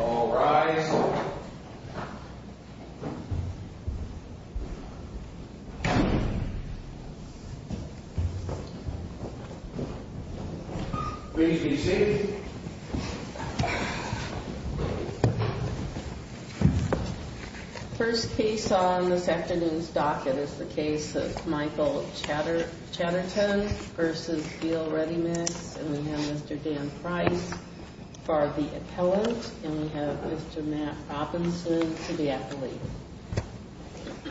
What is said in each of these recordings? All rise. First case on this afternoon's docket is the case of Michael Chatterton v. Beal Ready Mix, and we have Mr. Dan Price for the appellant, and we have Mr. Matt Robinson for the athlete.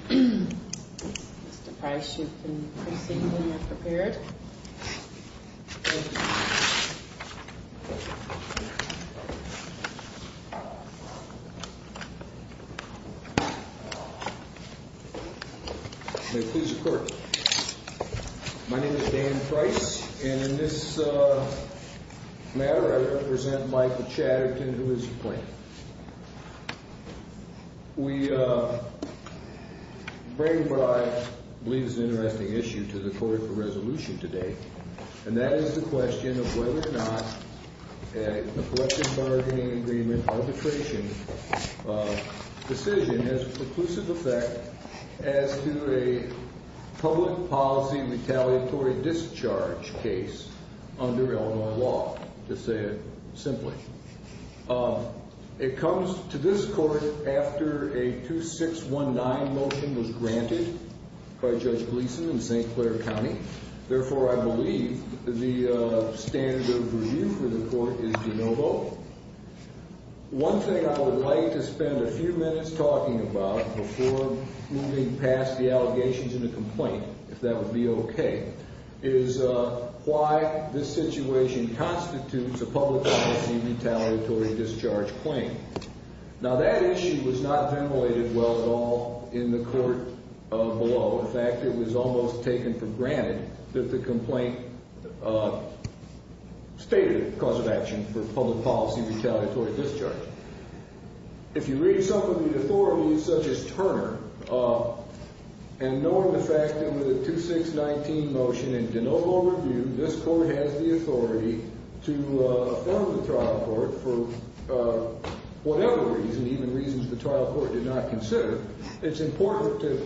Mr. Price, you can proceed when you're prepared. Thank you. May it please the Court. My name is Dan Price, and in this matter I represent Michael Chatterton, who is the plaintiff. We bring what I believe is an interesting issue to the Court for resolution today, and that is the question of whether or not a collection bargaining agreement arbitration decision has a conclusive effect as to a public policy retaliatory discharge case under Illinois law, to say it simply. It comes to this Court after a 2619 motion was granted by Judge Gleeson in St. Clair County. Therefore, I believe the standard of review for the Court is de novo. One thing I would like to spend a few minutes talking about before moving past the allegations in the complaint, if that would be okay, is why this situation constitutes a public policy retaliatory discharge claim. Now, that issue was not ventilated well at all in the Court below. In fact, it was almost taken for granted that the complaint stated a cause of action for public policy retaliatory discharge. If you read something with authorities such as Turner, and knowing the fact that with a 2619 motion in de novo review, this Court has the authority to affirm the trial court for whatever reason, even reasons the trial court did not consider, it's important to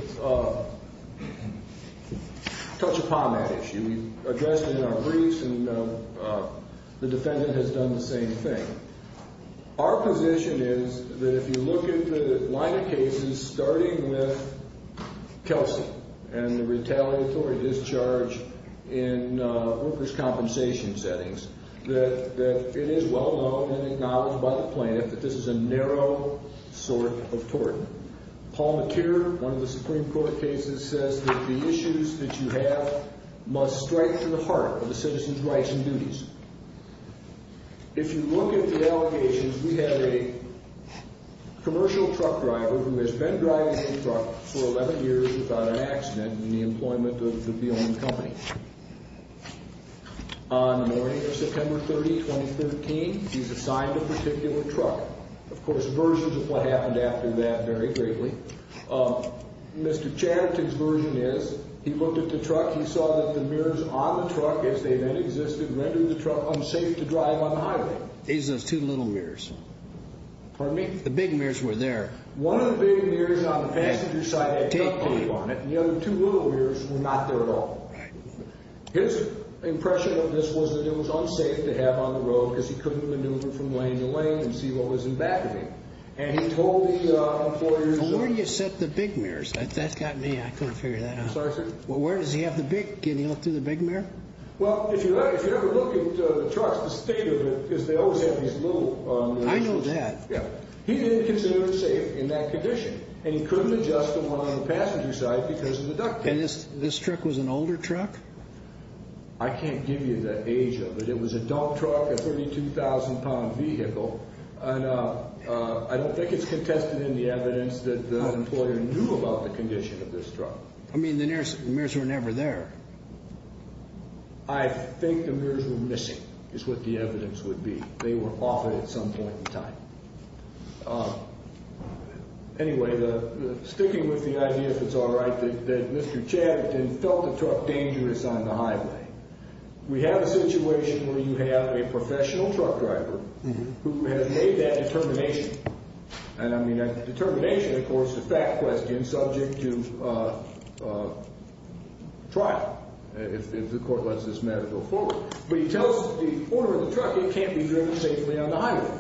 touch upon that issue. We've addressed it in our briefs, and the defendant has done the same thing. Our position is that if you look at the line of cases starting with Kelsey and the retaliatory discharge in workers' compensation settings, that it is well known and acknowledged by the plaintiff that this is a narrow sort of tort. Paul McKeer, one of the Supreme Court cases, says that the issues that you have must strike to the heart of the citizen's rights and duties. If you look at the allegations, we have a commercial truck driver who has been driving a truck for 11 years without an accident in the employment of the company. On the morning of September 30, 2013, he's assigned a particular truck. Of course, versions of what happened after that vary greatly. Mr. Chatterton's version is he looked at the truck. He saw that the mirrors on the truck, as they then existed, rendered the truck unsafe to drive on the highway. These are those two little mirrors. Pardon me? The big mirrors were there. One of the big mirrors on the passenger side had duct tape on it, and the other two little mirrors were not there at all. His impression of this was that it was unsafe to have on the road because he couldn't maneuver from lane to lane and see what was in back of him. Where do you set the big mirrors? That's got me. I couldn't figure that out. Sorry, sir? Where does he have the big – can he look through the big mirror? Well, if you ever look at the trucks, the state of it is they always have these little – I know that. Yeah. He didn't consider it safe in that condition, and he couldn't adjust the one on the passenger side because of the duct tape. And this truck was an older truck? I can't give you the age of it. It was a dump truck, a 32,000-pound vehicle, and I don't think it's contested in the evidence that the employer knew about the condition of this truck. I mean, the mirrors were never there. I think the mirrors were missing is what the evidence would be. They were off at some point in time. Anyway, sticking with the idea, if it's all right, that Mr. Chatterton felt the truck dangerous on the highway. We have a situation where you have a professional truck driver who has made that determination. And I mean that determination, of course, is a fact question subject to trial if the court lets this matter go forward. But he tells the owner of the truck it can't be driven safely on the highway.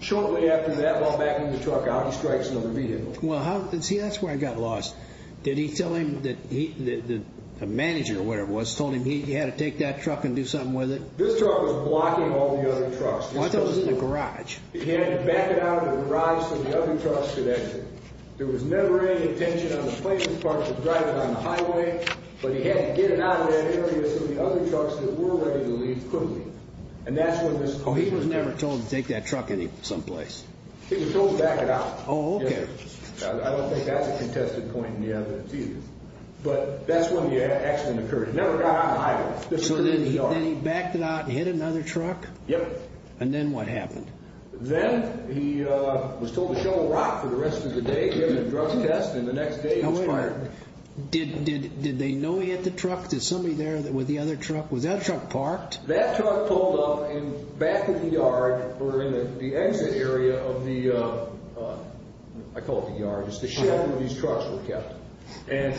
Shortly after that, while backing the truck out, he strikes another vehicle. Well, see, that's where I got lost. Did he tell him that the manager or whatever it was told him he had to take that truck and do something with it? This truck was blocking all the other trucks. Well, I thought it was the garage. He had to back it out of the garage so the other trucks could exit. There was never any attention on the placement part to drive it on the highway, but he had to get it out of that area so the other trucks that were ready to leave couldn't leave. And that's where this comes from. Oh, he was never told to take that truck someplace. He was told to back it out. Oh, okay. I don't think that's a contested point in the evidence either. But that's when the accident occurred. It never got on the highway. It was certainly in the yard. So then he backed it out and hit another truck? Yep. And then what happened? Then he was told to shovel rock for the rest of the day, give it a drug test, and the next day it was fired. Now wait a minute. Did they know he hit the truck? Did somebody there with the other truck, was that truck parked? That truck pulled up in back of the yard or in the exit area of the, I call it the yard, it's the shed where these trucks were kept. And,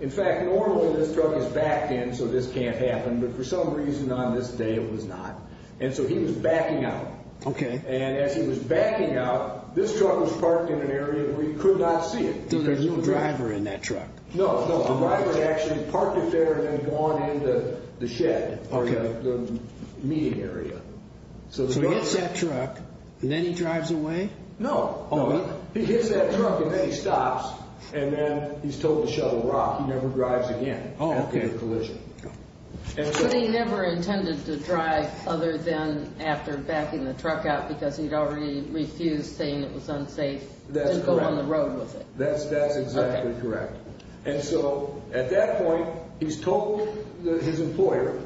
in fact, normally this truck is backed in so this can't happen, but for some reason on this day it was not. And so he was backing out. Okay. And as he was backing out, this truck was parked in an area where he could not see it. So there was no driver in that truck? No, no. A driver actually parked it there and then gone into the shed or the meeting area. So he hits that truck and then he drives away? No. He hits that truck and then he stops and then he's told to shovel rock. He never drives again after the collision. But he never intended to drive other than after backing the truck out because he'd already refused saying it was unsafe to go on the road with it. That's exactly correct. And so at that point he's told his employer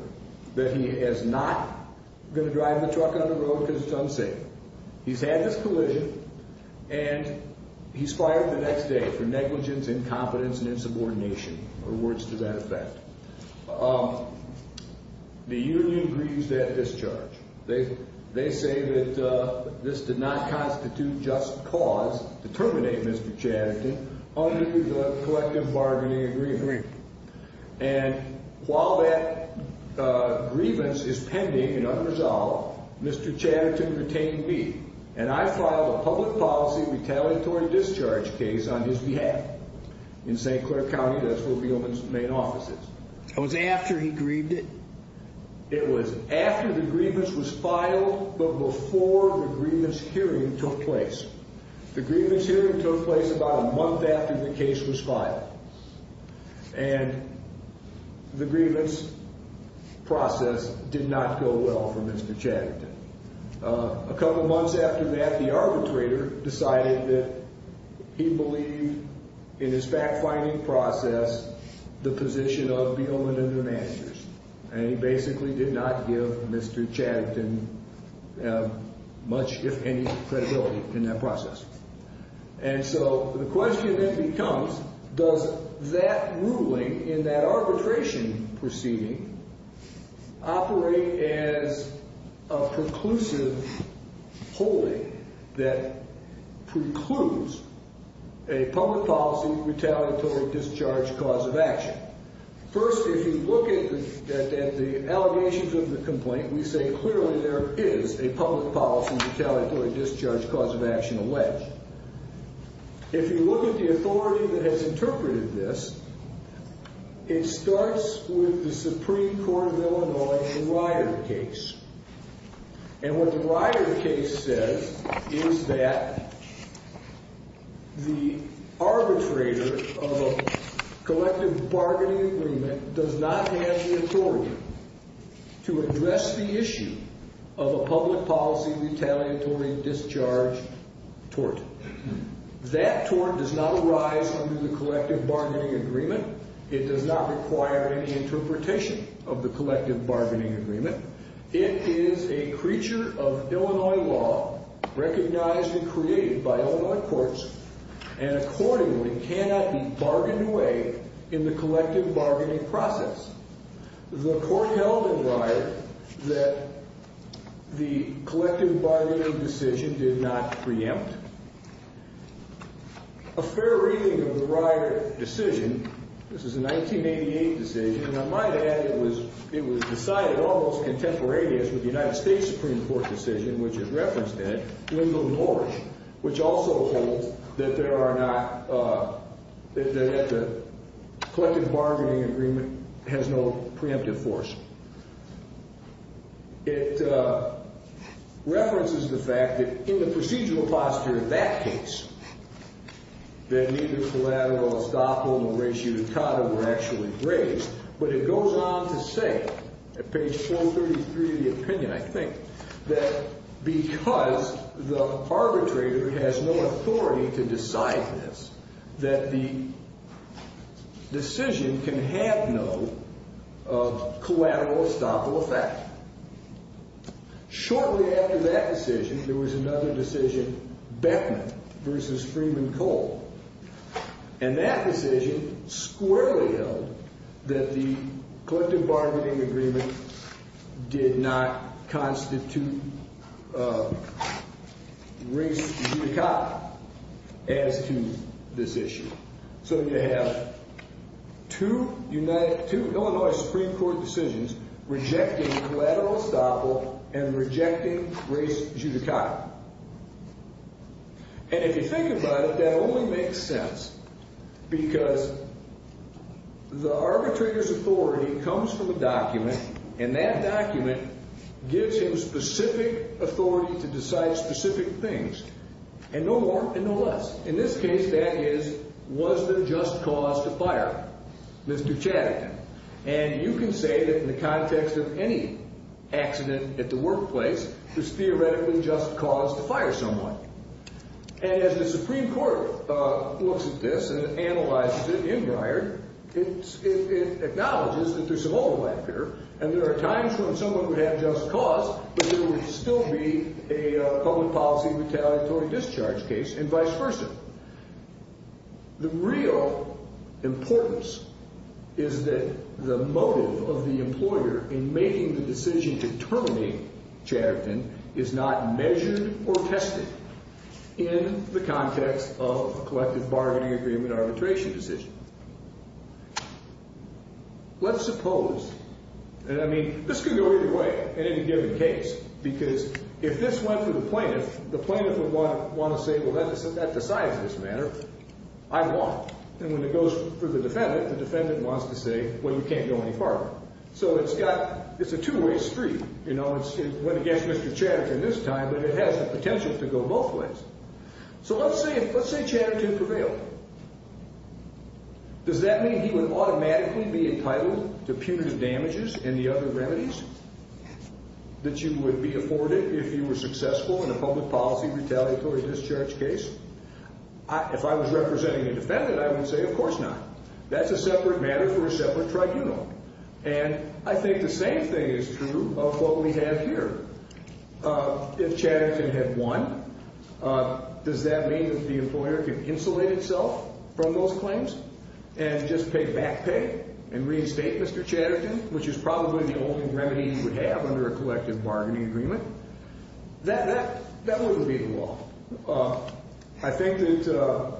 that he is not going to drive the truck on the road because it's unsafe. He's had this collision and he's fired the next day for negligence, incompetence, and insubordination or words to that effect. The union grieves that discharge. They say that this did not constitute just cause to terminate Mr. Chatterton under the collective bargaining agreement. Agreed. And while that grievance is pending and unresolved, Mr. Chatterton retained me. And I filed a public policy retaliatory discharge case on his behalf in St. Clair County, that's where Weillman's main office is. That was after he grieved it? It was after the grievance was filed but before the grievance hearing took place. The grievance hearing took place about a month after the case was filed. And the grievance process did not go well for Mr. Chatterton. A couple months after that, the arbitrator decided that he believed in his fact-finding process the position of Weillman and their managers. And he basically did not give Mr. Chatterton much, if any, credibility in that process. And so the question then becomes, does that ruling in that arbitration proceeding operate as a preclusive holding that precludes a public policy retaliatory discharge cause of action? First, if you look at the allegations of the complaint, we say clearly there is a public policy retaliatory discharge cause of action alleged. If you look at the authority that has interpreted this, it starts with the Supreme Court of Illinois in Ryder case. And what the Ryder case says is that the arbitrator of a collective bargaining agreement does not have the authority to address the issue of a public policy retaliatory discharge tort. That tort does not arise under the collective bargaining agreement. It does not require any interpretation of the collective bargaining agreement. It is a creature of Illinois law, recognized and created by Illinois courts, and accordingly cannot be bargained away in the collective bargaining process. The court held in Ryder that the collective bargaining decision did not preempt. A fair reading of the Ryder decision, this is a 1988 decision, and I might add it was decided almost contemporaneously with the United States Supreme Court decision, which is referenced in it, Wendell Norrish, which also holds that there are not, that the collective bargaining agreement has no preemptive force. It references the fact that in the procedural posture of that case, that neither collateral estoppel nor ratio dictata were actually raised. But it goes on to say, at page 433 of the opinion, I think, that because the arbitrator has no authority to decide this, that the decision can have no collateral estoppel effect. Shortly after that decision, there was another decision, Beckman versus Freeman Cole. And that decision squarely held that the collective bargaining agreement did not constitute race judicata as to this issue. So you have two Illinois Supreme Court decisions rejecting collateral estoppel and rejecting race judicata. And if you think about it, that only makes sense because the arbitrator's authority comes from the document, and that document gives him specific authority to decide specific things. And no more and no less. In this case, that is, was there just cause to fire Mr. Chatterton? And you can say that in the context of any accident at the workplace, there's theoretically just cause to fire someone. And as the Supreme Court looks at this and analyzes it in Bryard, it acknowledges that there's some overlap here. And there are times when someone would have just cause, but there would still be a public policy retaliatory discharge case and vice versa. The real importance is that the motive of the employer in making the decision to terminate Chatterton is not measured or tested in the context of a collective bargaining agreement arbitration decision. Let's suppose, and I mean, this could go either way in any given case, because if this went to the plaintiff, the plaintiff would want to say, well, that decides this matter, I want. And when it goes for the defendant, the defendant wants to say, well, you can't go any farther. So it's got, it's a two-way street. You know, it went against Mr. Chatterton this time, but it has the potential to go both ways. So let's say Chatterton prevailed. Does that mean he would automatically be entitled to punitive damages and the other remedies that you would be afforded if you were successful in a public policy retaliatory discharge case? If I was representing a defendant, I would say, of course not. That's a separate matter for a separate tribunal. And I think the same thing is true of what we have here. If Chatterton had won, does that mean that the employer could insulate itself from those claims and just pay back pay and reinstate Mr. Chatterton, which is probably the only remedy you would have under a collective bargaining agreement? That wouldn't be the law. I think that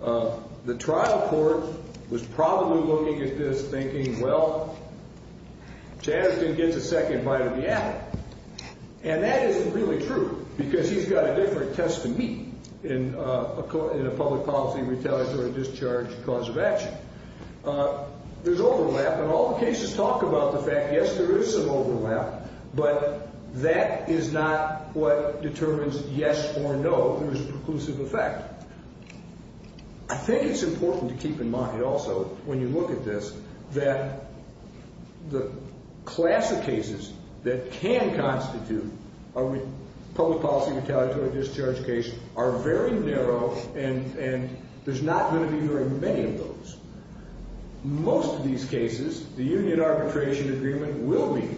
the trial court was probably looking at this thinking, well, Chatterton gets a second bite of the apple. And that isn't really true because he's got a different test to meet in a public policy retaliatory discharge cause of action. There's overlap, and all the cases talk about the fact, yes, there is some overlap, but that is not what determines yes or no. There is a preclusive effect. I think it's important to keep in mind also, when you look at this, that the class of cases that can constitute a public policy retaliatory discharge case are very narrow, and there's not going to be very many of those. Most of these cases, the union arbitration agreement will be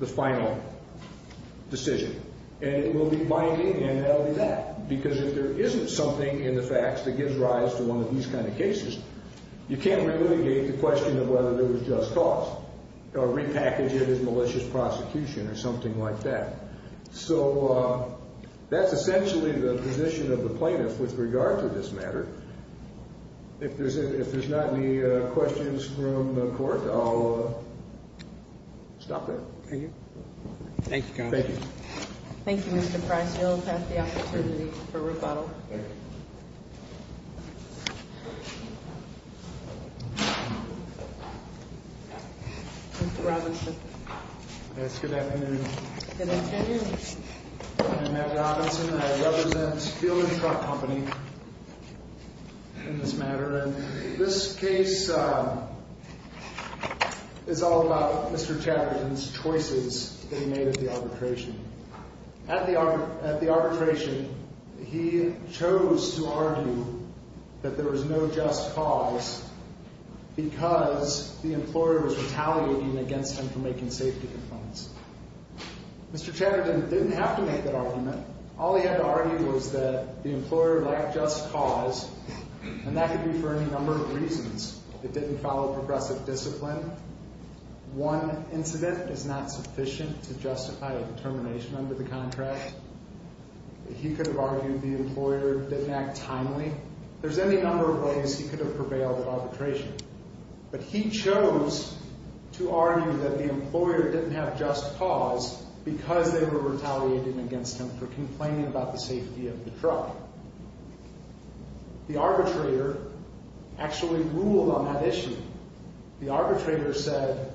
the final decision, and it will be binding, and that will be that. Because if there isn't something in the facts that gives rise to one of these kind of cases, you can't relitigate the question of whether there was just cause or repackage it as malicious prosecution or something like that. So that's essentially the position of the plaintiff with regard to this matter. If there's not any questions from the court, I'll stop there. Thank you. Thank you. Thank you, Mr. Price. You'll pass the opportunity for rebuttal. Mr. Robinson. Yes, good afternoon. Good afternoon. I'm Matt Robinson, and I represent Field and Truck Company in this matter. And this case is all about Mr. Chatterton's choices that he made at the arbitration. At the arbitration, he chose to argue that there was no just cause because the employer was retaliating against him for making safety complaints. Mr. Chatterton didn't have to make that argument. All he had to argue was that the employer lacked just cause, and that could be for any number of reasons. It didn't follow progressive discipline. One incident is not sufficient to justify a determination under the contract. He could have argued the employer didn't act timely. There's any number of ways he could have prevailed at arbitration. But he chose to argue that the employer didn't have just cause because they were retaliating against him for complaining about the safety of the truck. The arbitrator actually ruled on that issue. The arbitrator said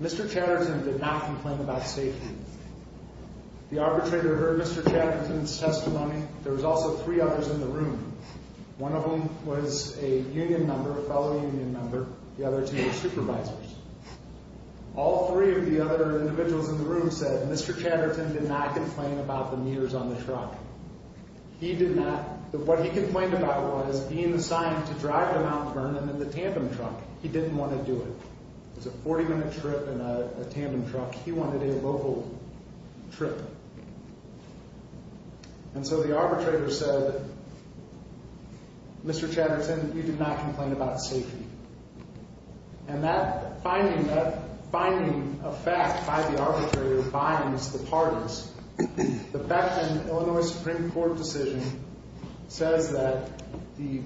Mr. Chatterton did not complain about safety. The arbitrator heard Mr. Chatterton's testimony. There was also three others in the room. One of them was a union member, a fellow union member. The other two were supervisors. All three of the other individuals in the room said Mr. Chatterton did not complain about the meters on the truck. He did not. What he complained about was being assigned to drive to Mount Vernon in the tandem truck. He didn't want to do it. It was a 40-minute trip in a tandem truck. He wanted a local trip. And so the arbitrator said Mr. Chatterton, you did not complain about safety. And that finding of fact by the arbitrator binds the parties. The Beckman Illinois Supreme Court decision says that the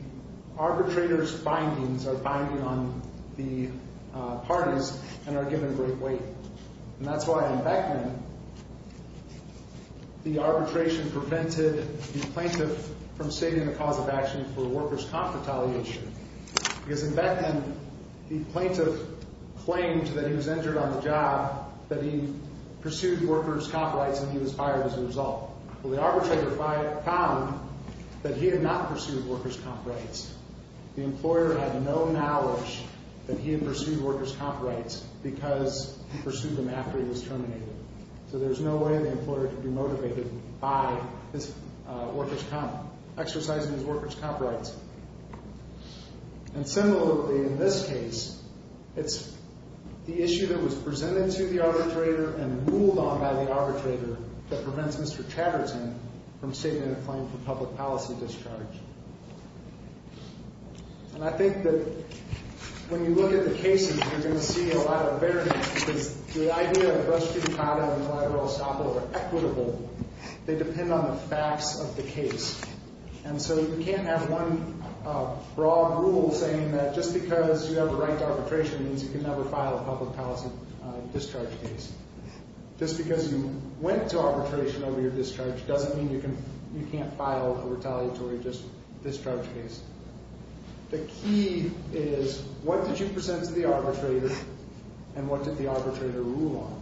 arbitrator's findings are binding on the parties and are given great weight. And that's why in Beckman the arbitration prevented the plaintiff from stating the cause of action for workers' comp retaliation. Because in Beckman the plaintiff claimed that he was injured on the job, that he pursued workers' comp rights and he was fired as a result. Well, the arbitrator found that he had not pursued workers' comp rights. The employer had no knowledge that he had pursued workers' comp rights because he pursued them after he was terminated. So there's no way the employer could be motivated by his workers' comp, exercising his workers' comp rights. And similarly in this case, it's the issue that was presented to the arbitrator and ruled on by the arbitrator that prevents Mr. Chatterton from stating a claim for public policy discharge. And I think that when you look at the cases, you're going to see a lot of variance because the idea of restitutata and collateral estoppel are equitable. They depend on the facts of the case. And so you can't have one broad rule saying that just because you have a right to arbitration means you can never file a public policy discharge case. Just because you went to arbitration over your discharge doesn't mean you can't file a retaliatory discharge case. The key is what did you present to the arbitrator and what did the arbitrator rule on?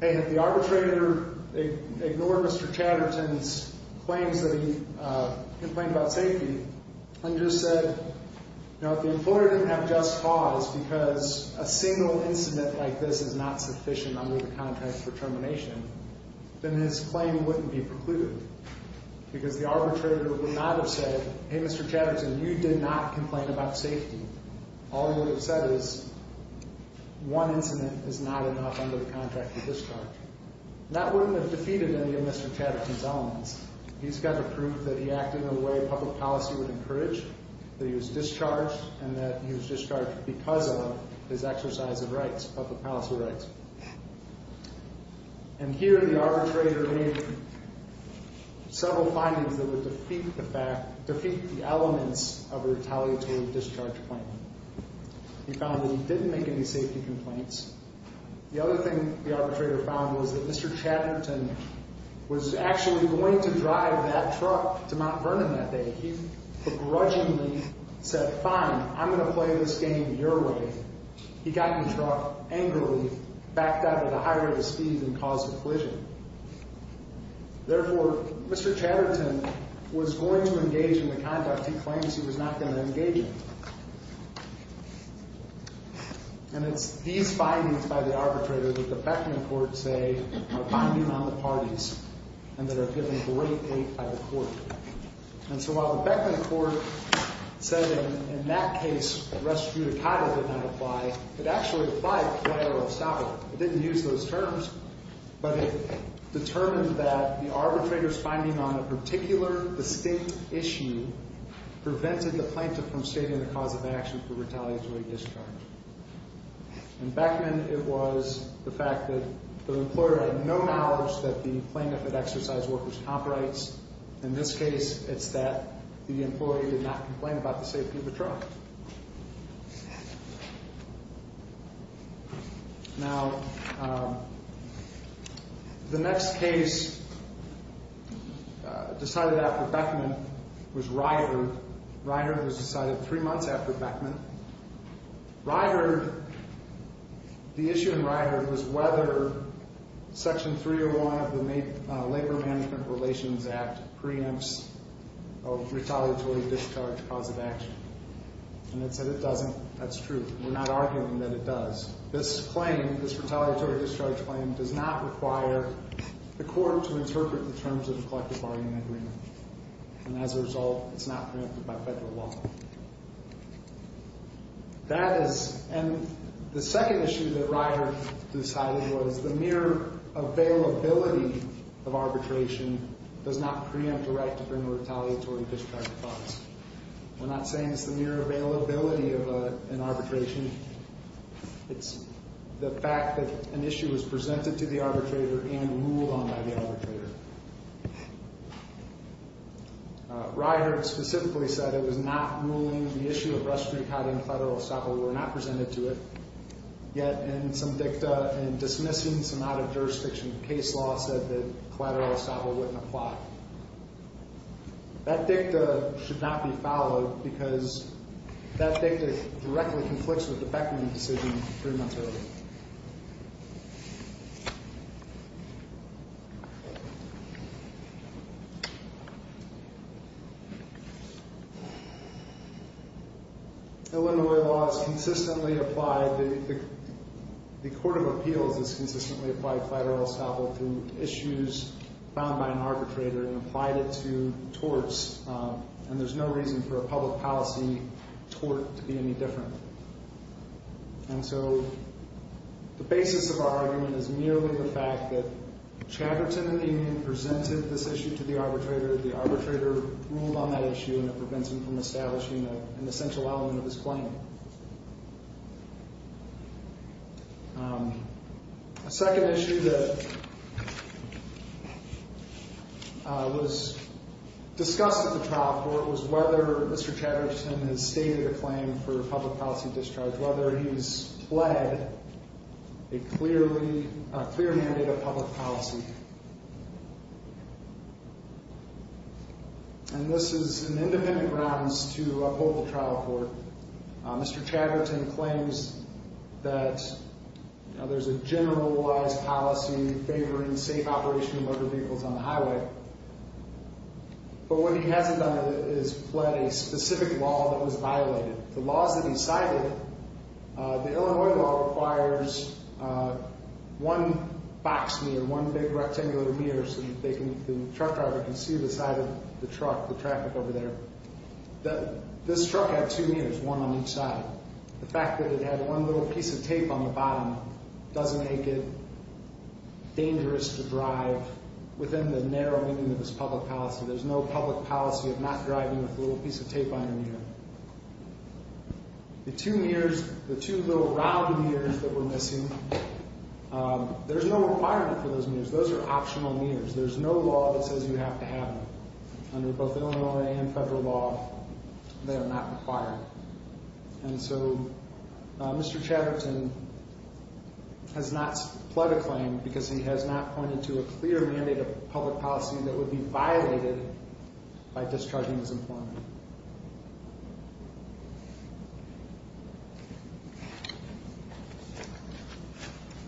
Hey, if the arbitrator ignored Mr. Chatterton's claims that he complained about safety and just said, you know, if the employer didn't have just cause because a single incident like this is not sufficient under the contract for termination, then his claim wouldn't be precluded because the arbitrator would not have said, hey, Mr. Chatterton, you did not complain about safety. All you would have said is one incident is not enough under the contract to discharge. That wouldn't have defeated any of Mr. Chatterton's elements. He's got to prove that he acted in a way public policy would encourage, that he was discharged, and that he was discharged because of his exercise of rights, public policy rights. And here the arbitrator made several findings that would defeat the elements of a retaliatory discharge claim. He found that he didn't make any safety complaints. The other thing the arbitrator found was that Mr. Chatterton was actually going to drive that truck to Mount Vernon that day. He begrudgingly said, fine, I'm going to play this game your way. He got in the truck angrily, backed out at a higher rate of speed, and caused a collision. Therefore, Mr. Chatterton was going to engage in the conduct he claims he was not going to engage in. And it's these findings by the arbitrator that the Beckman court say are binding on the parties and that are given great hate by the court. And so while the Beckman court said in that case, rest judicata did not apply, it actually applied to the IRL stopper. It didn't use those terms, but it determined that the arbitrator's finding on a particular distinct issue prevented the plaintiff from stating the cause of action for retaliatory discharge. In Beckman, it was the fact that the employer had no knowledge that the plaintiff had exercised workers' comp rights. In this case, it's that the employee did not complain about the safety of the truck. Now, the next case decided after Beckman was Ryder. Ryder was decided three months after Beckman. Ryder, the issue in Ryder was whether Section 301 of the Labor Management Relations Act preempts a retaliatory discharge cause of action. And it said it doesn't. That's true. We're not arguing that it does. This claim, this retaliatory discharge claim, does not require the court to interpret the terms of the collective bargaining agreement. And as a result, it's not preempted by federal law. That is, and the second issue that Ryder decided was the mere availability of arbitration does not preempt a right to bring a retaliatory discharge clause. We're not saying it's the mere availability of an arbitration. It's the fact that an issue was presented to the arbitrator and ruled on by the arbitrator. Ryder specifically said it was not ruling the issue of restriction codding collateral estoppel were not presented to it. Yet, in some dicta, in dismissing some out-of-jurisdiction case law, said that collateral estoppel wouldn't apply. That dicta should not be followed because that dicta directly conflicts with the Beckman decision three months earlier. Illinois law has consistently applied, the Court of Appeals has consistently applied collateral estoppel to issues found by an arbitrator and applied it to torts. And there's no reason for a public policy tort to be any different. And so the basis of our argument is merely the fact that Chatterton and the union presented this issue to the arbitrator. The arbitrator ruled on that issue and it prevents him from establishing an essential element of his claim. A second issue that was discussed at the trial court was whether Mr. Chatterton has stated a claim for a public policy discharge, whether he's pled a clear mandate of public policy. And this is an independent grounds to uphold the trial court. Mr. Chatterton claims that there's a generalized policy favoring safe operation of motor vehicles on the highway. But what he hasn't done is pled a specific law that was violated. The laws that he cited, the Illinois law requires one box mirror, one big rectangular mirror so the truck driver can see the side of the truck, the traffic over there. This truck had two mirrors, one on each side. The fact that it had one little piece of tape on the bottom doesn't make it dangerous to drive within the narrow meaning of his public policy. There's no public policy of not driving with a little piece of tape on your mirror. The two mirrors, the two little round mirrors that we're missing, there's no requirement for those mirrors. Those are optional mirrors. There's no law that says you have to have them. Under both Illinois and federal law, they are not required. And so Mr. Chatterton has not pled a claim because he has not pointed to a clear mandate of public policy that would be violated by discharging his employment.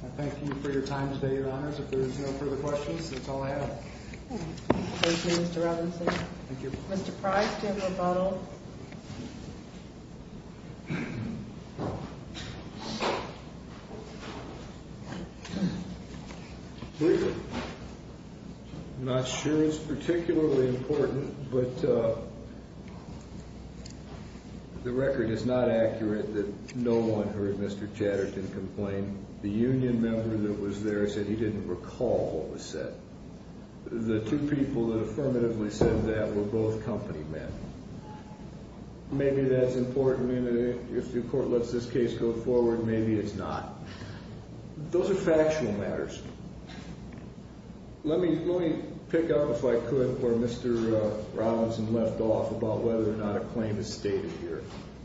I thank you for your time today, Your Honors. If there's no further questions, that's all I have. Thank you, Mr. Robinson. Thank you. Mr. Price to have a rebuttal. I'm not sure it's particularly important, but the record is not accurate that no one heard Mr. Chatterton complain. The union member that was there said he didn't recall what was said. The two people that affirmatively said that were both company men. Maybe that's important, and if the court lets this case go forward, maybe it's not. Those are factual matters. Let me pick up, if I could, where Mr. Robinson left off about whether or not a claim is stated here,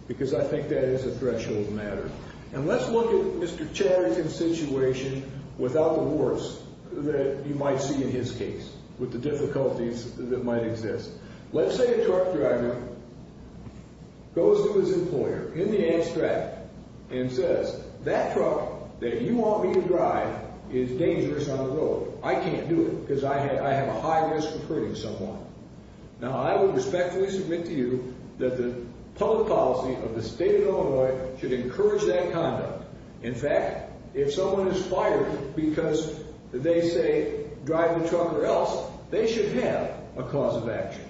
because I think that is a threshold matter. And let's look at Mr. Chatterton's situation without the worst that you might see in his case, with the difficulties that might exist. Let's say a truck driver goes to his employer in the abstract and says, that truck that you want me to drive is dangerous on the road. I can't do it because I have a high risk of hurting someone. Now, I will respectfully submit to you that the public policy of the state of Illinois should encourage that conduct. In fact, if someone is fired because they say drive the truck or else, they should have a cause of action.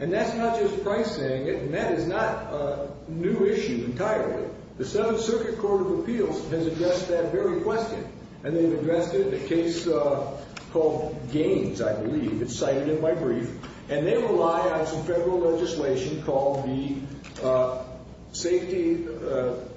And that's not just Price saying it, and that is not a new issue entirely. The Seventh Circuit Court of Appeals has addressed that very question, and they've addressed it in a case called Gaines, I believe. It's cited in my brief. And they rely on some federal legislation called the Safety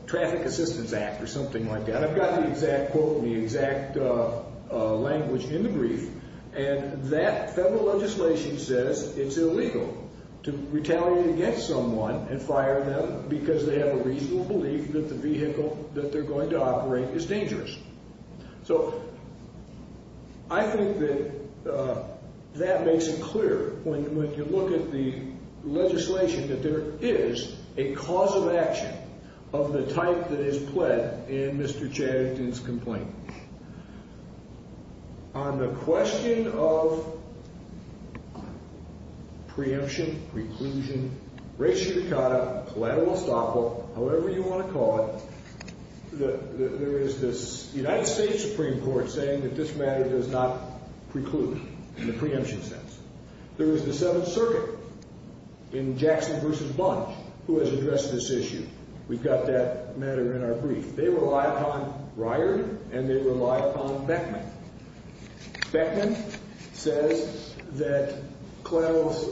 Traffic Assistance Act or something like that. I've got the exact quote and the exact language in the brief. And that federal legislation says it's illegal to retaliate against someone and fire them because they have a reasonable belief that the vehicle that they're going to operate is dangerous. So I think that that makes it clear when you look at the legislation that there is a cause of action of the type that is pled in Mr. Chatterton's complaint. On the question of preemption, preclusion, reiterata, collateral estoppel, however you want to call it, there is this United States Supreme Court saying that this matter does not preclude in the preemption sense. There is the Seventh Circuit in Jackson v. Bunch who has addressed this issue. We've got that matter in our brief. They rely upon Ryard, and they rely upon Beckman. Beckman says that grace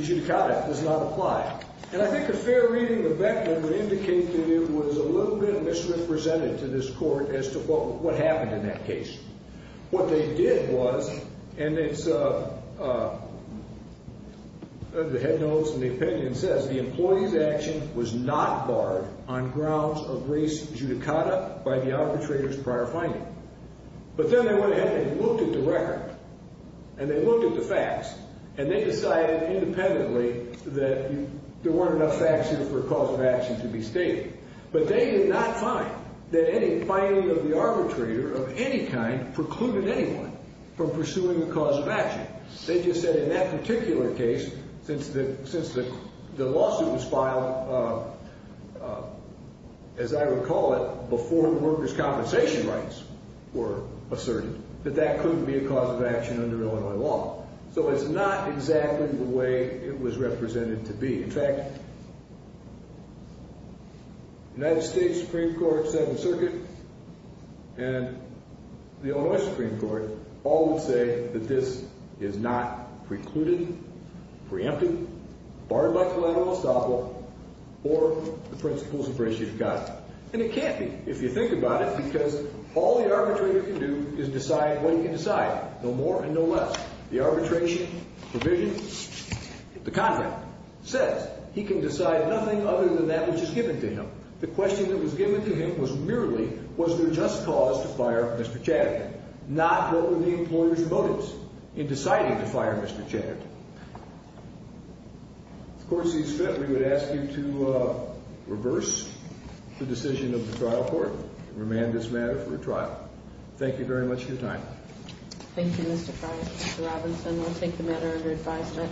judicata does not apply. And I think a fair reading of Beckman would indicate that it was a little bit misrepresented to this court as to what happened in that case. What they did was, and it's the head notes and the opinion says, the employee's action was not barred on grounds of grace judicata by the arbitrator's prior finding. But then they went ahead and looked at the record, and they looked at the facts, and they decided independently that there weren't enough facts here for a cause of action to be stated. But they did not find that any finding of the arbitrator of any kind precluded anyone from pursuing a cause of action. They just said in that particular case, since the lawsuit was filed, as I would call it, before the worker's compensation rights were asserted, that that couldn't be a cause of action under Illinois law. So it's not exactly the way it was represented to be. In fact, the United States Supreme Court said in circuit and the Illinois Supreme Court all would say that this is not precluded, preempted, barred by collateral estoppel, or the principles of grace judicata. And it can't be, if you think about it, because all the arbitrator can do is decide what he can decide, no more and no less. The arbitration provision, the contract, says he can decide nothing other than that which is given to him. The question that was given to him was merely, was there just cause to fire Mr. Chaddick, not what were the employer's motives in deciding to fire Mr. Chaddick. The court sees fit we would ask you to reverse the decision of the trial court and remand this matter for a trial. Thank you very much for your time. Thank you, Mr. Robinson. We'll take the matter under advisory.